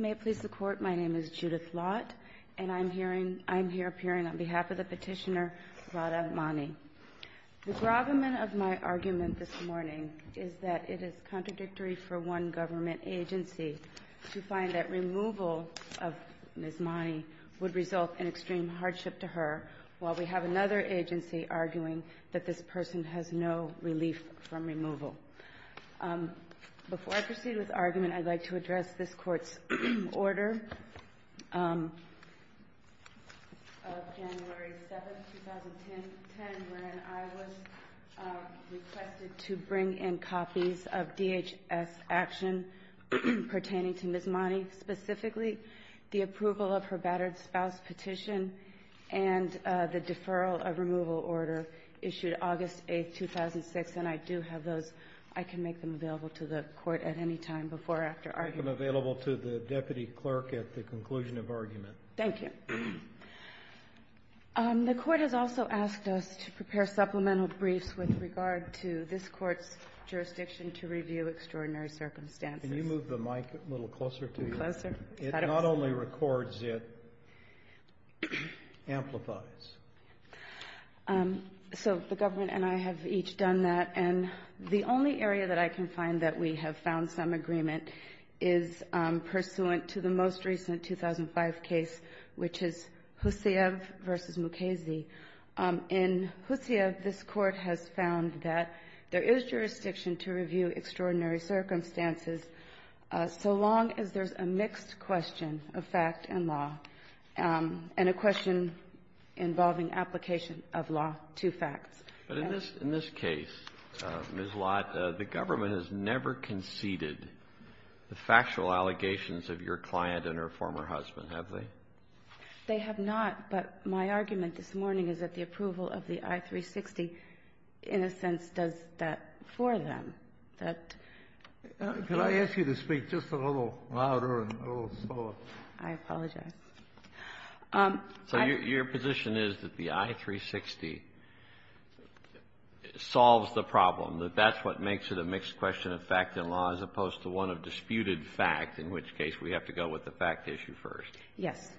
May it please the Court, my name is Judith Lott, and I'm here appearing on behalf of the petitioner, Radha Mani. The gravamen of my argument this morning is that it is contradictory for one government agency to find that removal of Ms. Mani would result in extreme hardship to her, while we have another agency arguing that this person has no relief from removal. Before I proceed with argument, I'd like to address this Court's order of January 7, 2010, when I was requested to bring in copies of DHS action pertaining to Ms. Mani, specifically the approval of her battered spouse petition and the deferral of removal order issued at August 8, 2006, and I do have those. I can make them available to the Court at any time before or after argument. I'll make them available to the deputy clerk at the conclusion of argument. Thank you. The Court has also asked us to prepare supplemental briefs with regard to this Court's jurisdiction to review extraordinary circumstances. Can you move the mic a little closer to you? Closer? It not only records, it amplifies. So the government and I have each done that, and the only area that I can find that we have found some agreement is pursuant to the most recent 2005 case, which is Husayev v. Mukasey. In Husayev, this Court has found that there is jurisdiction to review extraordinary circumstances so long as there's a mixed question of fact and law, and a question involving application of law to facts. But in this case, Ms. Lott, the government has never conceded the factual allegations of your client and her former husband, have they? They have not. But my argument this morning is that the approval of the I-360, in a sense, does that for them. Can I ask you to speak just a little louder and a little slower? I apologize. So your position is that the I-360 solves the problem, that that's what makes it a mixed question of fact and law, as opposed to one of disputed fact, in which case we have to go with the fact issue first? Yes.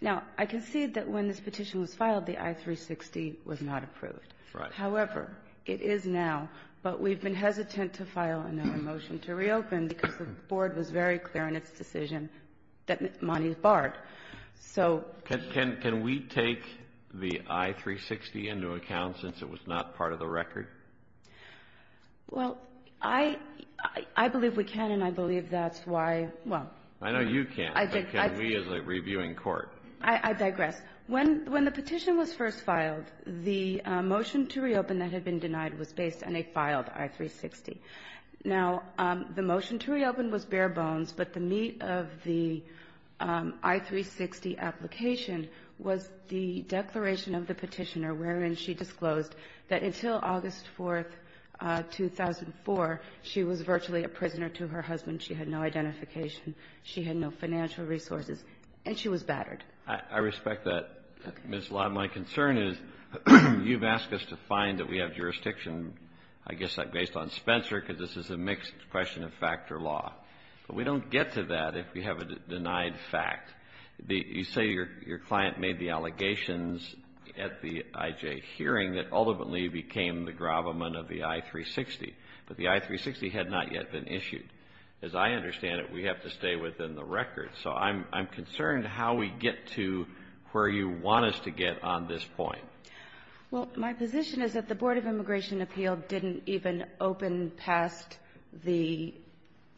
Now, I concede that when this petition was filed, the I-360 was not approved. However, it is now, but we've been hesitant to file another motion to reopen because the Board was very clear in its decision that money is barred. Can we take the I-360 into account since it was not part of the record? Well, I believe we can, and I believe that's why, well. I know you can't, but can we as a reviewing court? I digress. When the petition was first filed, the motion to reopen that had been denied was based on a filed I-360. Now, the motion to reopen was bare bones, but the meat of the I-360 application was the declaration of the petitioner wherein she disclosed that until August 4, 2004, she was virtually a prisoner to her husband. She had no identification. She had no financial resources. And she was battered. I respect that. Ms. Lott, my concern is you've asked us to find that we have jurisdiction, I guess, based on Spencer, because this is a mixed question of fact or law. But we don't get to that if we have a denied fact. You say your client made the allegations at the IJ hearing that ultimately became the gravamen of the I-360, but the I-360 had not yet been issued. As I understand it, we have to stay within the record. So I'm concerned how we get to where you want us to get on this point. Well, my position is that the Board of Immigration Appeal didn't even open past the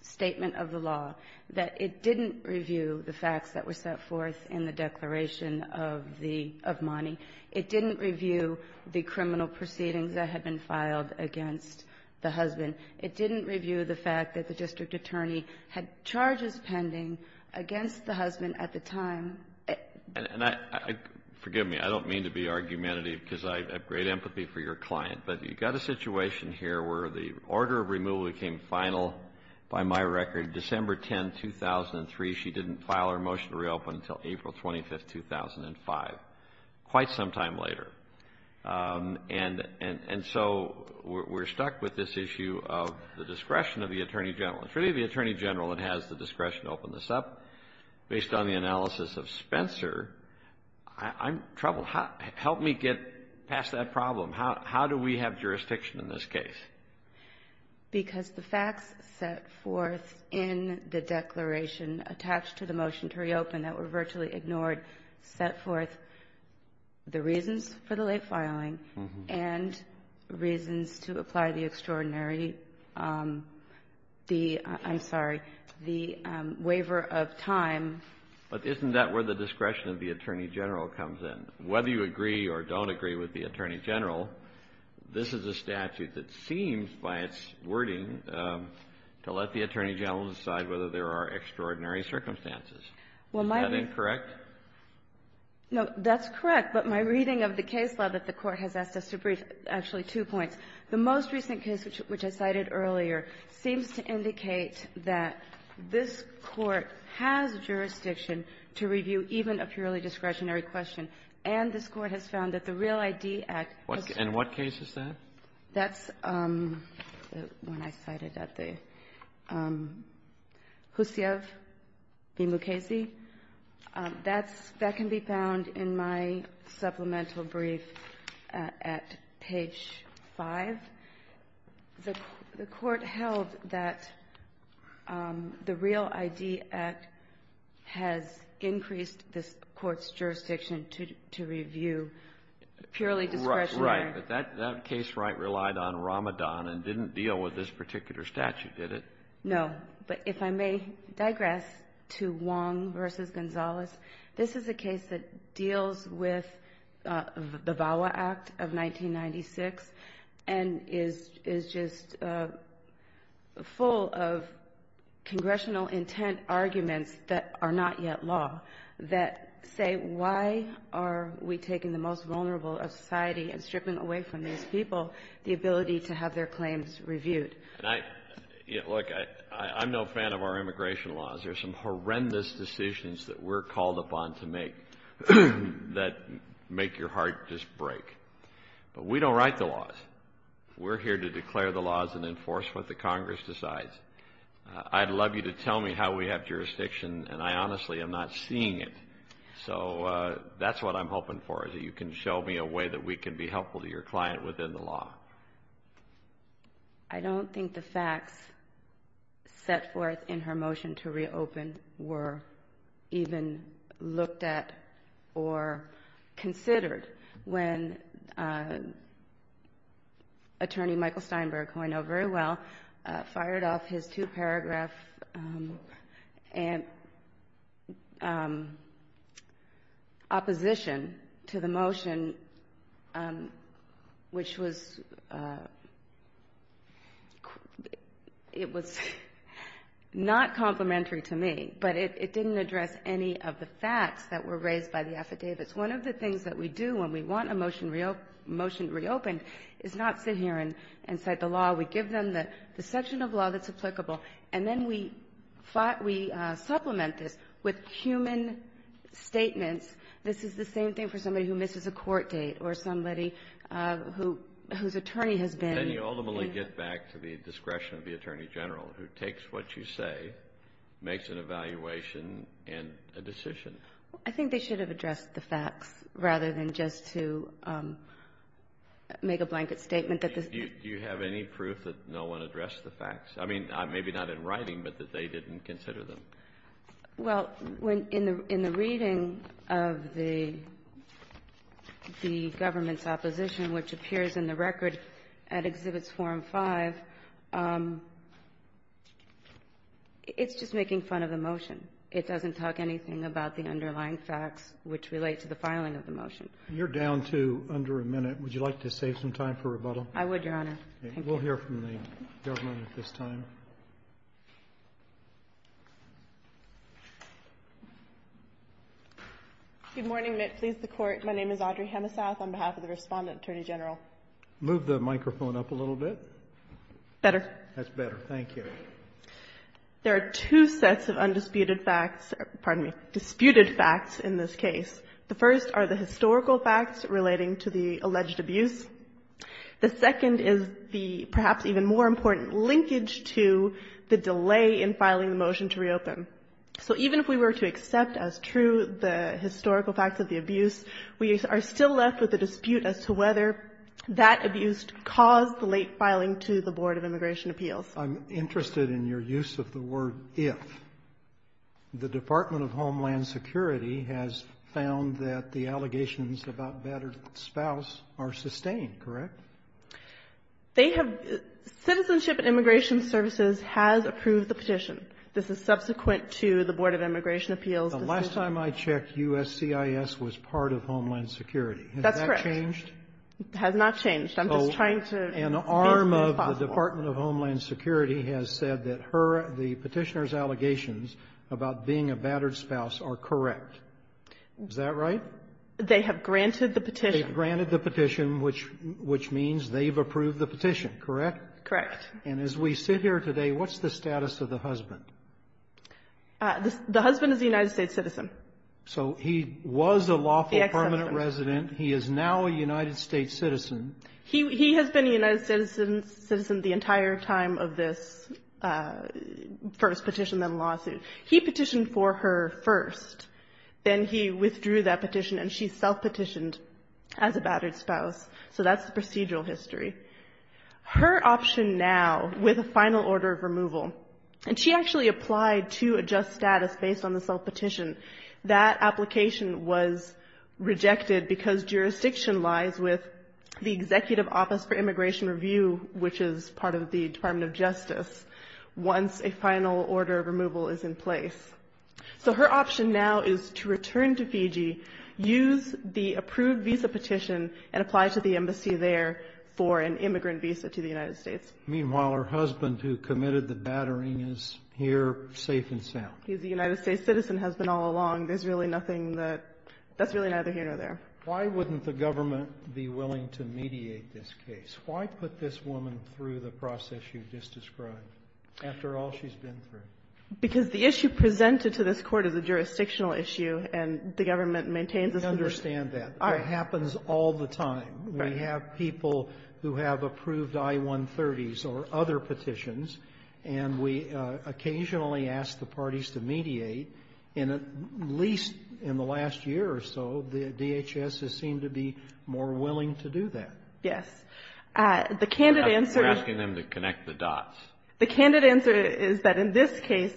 statement of the law, that it didn't review the facts that were set forth in the declaration of the — of Monty. It didn't review the criminal proceedings that had been filed against the husband. It didn't review the fact that the district attorney had charges pending against the husband at the time. And I — forgive me. I don't mean to be argumentative because I have great empathy for your client. But you've got a situation here where the order of removal became final, by my record, December 10, 2003. She didn't file her motion to reopen until April 25, 2005, quite some time later. And so we're stuck with this issue of the discretion of the attorney general. It's really the attorney general that has the discretion to open this up. Based on the analysis of Spencer, I'm troubled. Help me get past that problem. How do we have jurisdiction in this case? Because the facts set forth in the declaration attached to the motion to reopen that were virtually ignored set forth the reasons for the late filing and reasons to apply the extraordinary — the — I'm sorry — the waiver of time. But isn't that where the discretion of the attorney general comes in? Whether you agree or don't agree with the attorney general, this is a statute that seems, by its wording, to let the attorney general decide whether there are extraordinary circumstances. Is that incorrect? No, that's correct. But my reading of the case law that the Court has asked us to brief, actually two points. The most recent case, which I cited earlier, seems to indicate that this Court has jurisdiction to review even a purely discretionary question. And this Court has found that the Real ID Act — And what case is that? That's the one I cited at the — Hussiev v. Mukasey. That's — that can be found in my supplemental brief at page 5. The Court held that the Real ID Act has increased this Court's jurisdiction to review purely discretionary — Right. But that case right relied on Ramadan and didn't deal with this particular statute, did it? No. But if I may digress to Wong v. Gonzalez. This is a case that deals with the VAWA Act of 1996 and is just full of congressional intent arguments that are not yet law that say, why are we taking the most vulnerable of society and stripping away from these people the ability to have their claims reviewed? And I — look, I'm no fan of our immigration laws. There are some horrendous decisions that we're called upon to make that make your heart just break. But we don't write the laws. We're here to declare the laws and enforce what the Congress decides. I'd love you to tell me how we have jurisdiction, and I honestly am not seeing So that's what I'm hoping for, is that you can show me a way that we can be helpful to your client within the law. I don't think the facts set forth in her motion to reopen were even looked at or considered when Attorney Michael Steinberg, who I know very well, fired off his two opposition to the motion, which was — it was not complementary to me, but it didn't address any of the facts that were raised by the affidavits. One of the things that we do when we want a motion reopened is not sit here and cite the law. We give them the section of law that's applicable, and then we supplement this with human statements. This is the same thing for somebody who misses a court date or somebody whose attorney has been — Then you ultimately get back to the discretion of the attorney general, who takes what you say, makes an evaluation, and a decision. I think they should have addressed the facts rather than just to make a blanket statement that this — Do you have any proof that no one addressed the facts? I mean, maybe not in writing, but that they didn't consider them. Well, in the reading of the government's opposition, which appears in the record at Exhibits 4 and 5, it's just making fun of the motion. It doesn't talk anything about the underlying facts which relate to the filing of the motion. You're down to under a minute. Would you like to save some time for rebuttal? I would, Your Honor. Thank you. We'll hear from the government at this time. Good morning. May it please the Court. My name is Audrey Hemesath on behalf of the Respondent Attorney General. Move the microphone up a little bit. Better. That's better. Thank you. There are two sets of undisputed facts — pardon me, disputed facts in this case. The first are the historical facts relating to the alleged abuse. The second is the perhaps even more important linkage to the delay in filing the motion to reopen. So even if we were to accept as true the historical facts of the abuse, we are still left with a dispute as to whether that abuse caused the late filing to the Board of Immigration Appeals. I'm interested in your use of the word if. The Department of Homeland Security has found that the allegations about battered spouse are sustained, correct? They have — Citizenship and Immigration Services has approved the petition. This is subsequent to the Board of Immigration Appeals decision. The last time I checked, USCIS was part of Homeland Security. That's correct. Has that changed? It has not changed. I'm just trying to make it possible. So an arm of the Department of Homeland Security has said that her — the Petitioner's allegations about being a battered spouse are correct. Is that right? They have granted the petition. They've granted the petition, which means they've approved the petition, correct? Correct. And as we sit here today, what's the status of the husband? The husband is a United States citizen. So he was a lawful permanent resident. The ex-husband. He is now a United States citizen. He has been a United States citizen the entire time of this first petition, then lawsuit. He petitioned for her first. Then he withdrew that petition, and she self-petitioned as a battered spouse. So that's the procedural history. Her option now, with a final order of removal, and she actually applied to adjust status based on the self-petition, that application was rejected because jurisdiction lies with the Executive Office for Immigration Review, which is part of the Department of Justice, once a final order of removal is in place. So her option now is to return to Fiji, use the approved visa petition, and apply to the embassy there for an immigrant visa to the United States. Meanwhile, her husband, who committed the battering, is here safe and sound. He's a United States citizen, has been all along. There's really nothing that — that's really neither here nor there. Why wouldn't the government be willing to mediate this case? Why put this woman through the process you've just described, after all she's been through? Because the issue presented to this Court is a jurisdictional issue, and the government maintains it's a jurisdictional issue. I understand that. It happens all the time. Right. We have people who have approved I-130s or other petitions, and we occasionally ask the parties to mediate. And at least in the last year or so, the DHS has seemed to be more willing to do that. Yes. The candid answer — You're asking them to connect the dots. The candid answer is that in this case,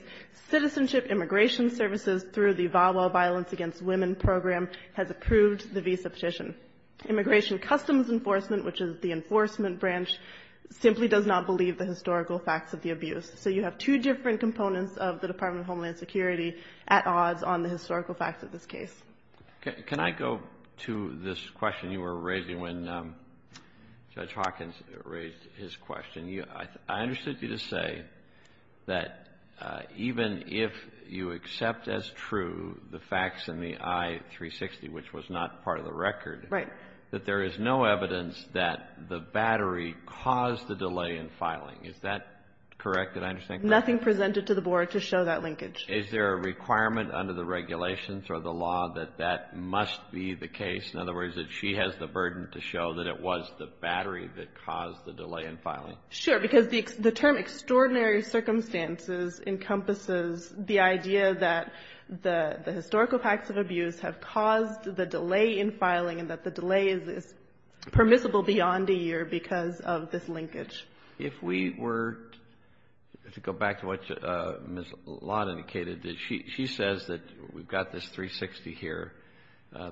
Citizenship Immigration Services, through the VAWA Violence Against Women Program, has approved the visa petition. Immigration Customs Enforcement, which is the enforcement branch, simply does not believe the historical facts of the abuse. So you have two different components of the Department of Homeland Security at odds on the historical facts of this case. Can I go to this question you were raising when Judge Hawkins raised his question? I understood you to say that even if you accept as true the facts in the I-360, which was not part of the record — Right. — that there is no evidence that the battery caused the delay in filing. Is that correct? Did I understand correctly? Nothing presented to the Board to show that linkage. Is there a requirement under the regulations or the law that that must be the case? In other words, that she has the burden to show that it was the battery that caused the delay in filing? Sure. Because the term extraordinary circumstances encompasses the idea that the historical facts of abuse have caused the delay in filing and that the delay is permissible beyond a year because of this linkage. If we were to go back to what Ms. Lott indicated, that she says that we've got this 360 here.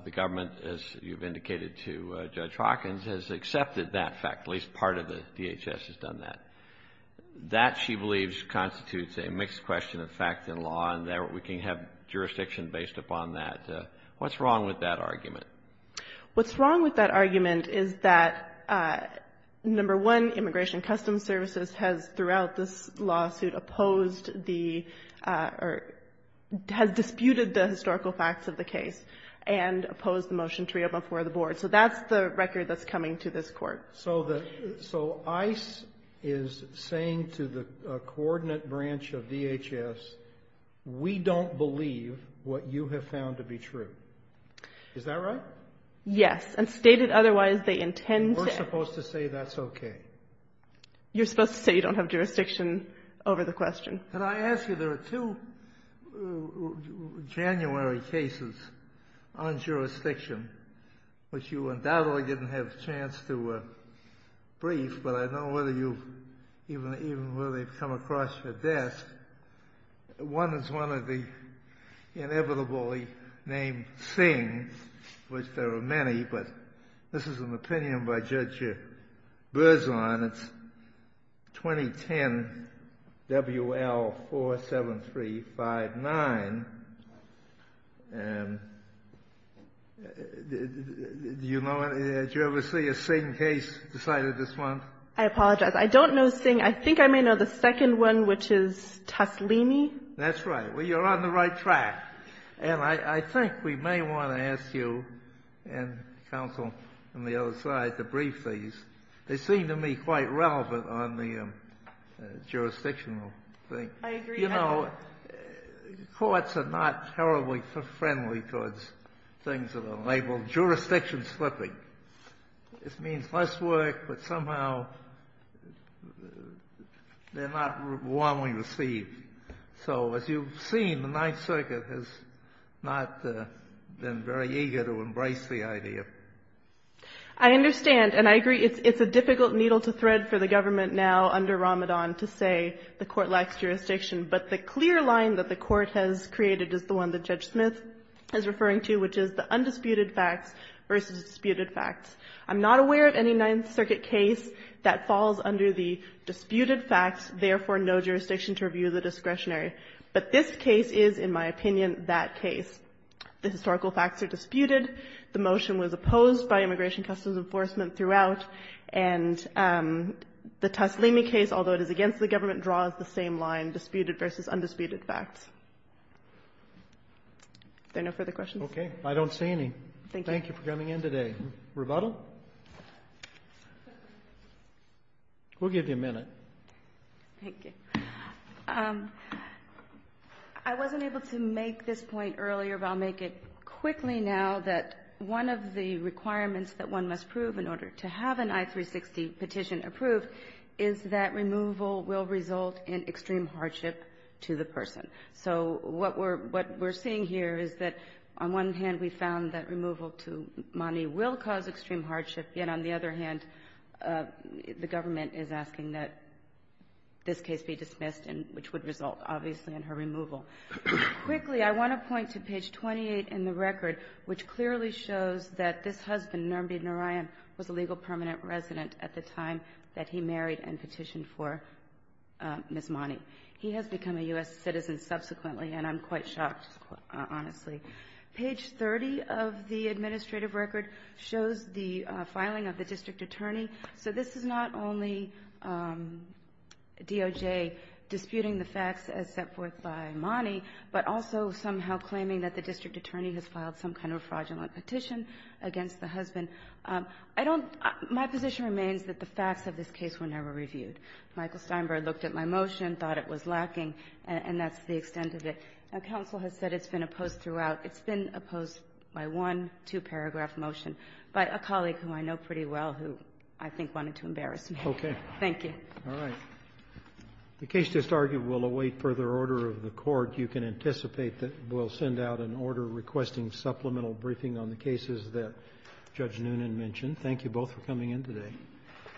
The government, as you've indicated to Judge Hawkins, has accepted that fact, at least part of the DHS has done that. That, she believes, constitutes a mixed question of fact and law and that we can have What's wrong with that argument? What's wrong with that argument is that, number one, Immigration and Customs Services has, throughout this lawsuit, opposed the or has disputed the historical facts of the case and opposed the motion to reopen before the Board. So that's the record that's coming to this Court. So ICE is saying to the coordinate branch of DHS, we don't believe what you have found to be true. Is that right? Yes. And stated otherwise, they intend to We're supposed to say that's okay. You're supposed to say you don't have jurisdiction over the question. Can I ask you, there are two January cases on jurisdiction, which you undoubtedly didn't have a chance to brief, but I don't know whether you've, even whether they've come across your desk. One is one of the inevitably named Singh, which there are many, but this is an opinion by Judge Berzon. It's 2010 WL47359. Do you know, did you ever see a Singh case decided this month? I apologize. I don't know Singh. I think I may know the second one, which is Toslini. That's right. Well, you're on the right track. And I think we may want to ask you and counsel on the other side to brief these. They seem to me quite relevant on the jurisdictional thing. I agree. You know, courts are not terribly friendly towards things that are labeled jurisdiction-slipping. This means less work, but somehow they're not warmly received. So as you've seen, the Ninth Circuit has not been very eager to embrace the idea. I understand. And I agree it's a difficult needle to thread for the government now under Ramadan to say the Court lacks jurisdiction. But the clear line that the Court has created is the one that Judge Smith is referring to, which is the undisputed facts versus disputed facts. I'm not aware of any Ninth Circuit case that falls under the disputed facts, therefore no jurisdiction to review the discretionary. But this case is, in my opinion, that case. The historical facts are disputed. The motion was opposed by Immigration Customs Enforcement throughout. And the Toslini case, although it is against the government, draws the same line, disputed versus undisputed facts. Are there no further questions? Okay. I don't see any. Thank you for coming in today. Rebuttal? We'll give you a minute. Thank you. I wasn't able to make this point earlier, but I'll make it quickly now that one of the requirements that one must prove in order to have an I-360 petition approved is that removal will result in extreme hardship to the person. So what we're seeing here is that on one hand, we found that removal to Mani will cause extreme hardship, yet on the other hand, the government is asking that this case be dismissed, which would result, obviously, in her removal. Quickly, I want to point to page 28 in the record, which clearly shows that this husband, Nirmbi Narayan, was a legal permanent resident at the time that he married and petitioned for Ms. Mani. He has become a U.S. citizen subsequently, and I'm quite shocked, honestly. Page 30 of the administrative record shows the filing of the district attorney. So this is not only DOJ disputing the facts as set forth by Mani, but also somehow claiming that the district attorney has filed some kind of fraudulent petition against the husband. My position remains that the facts of this case were never reviewed. Michael Steinberg looked at my motion, thought it was lacking, and that's the extent of it. Now, counsel has said it's been opposed throughout. It's been opposed by one two-paragraph motion by a colleague who I know pretty well who I think wanted to embarrass me. Roberts. Okay. Thank you. All right. The case disargued will await further order of the Court. You can anticipate that we'll send out an order requesting supplemental briefing on the cases that Judge Noonan mentioned. Thank you both for coming in today.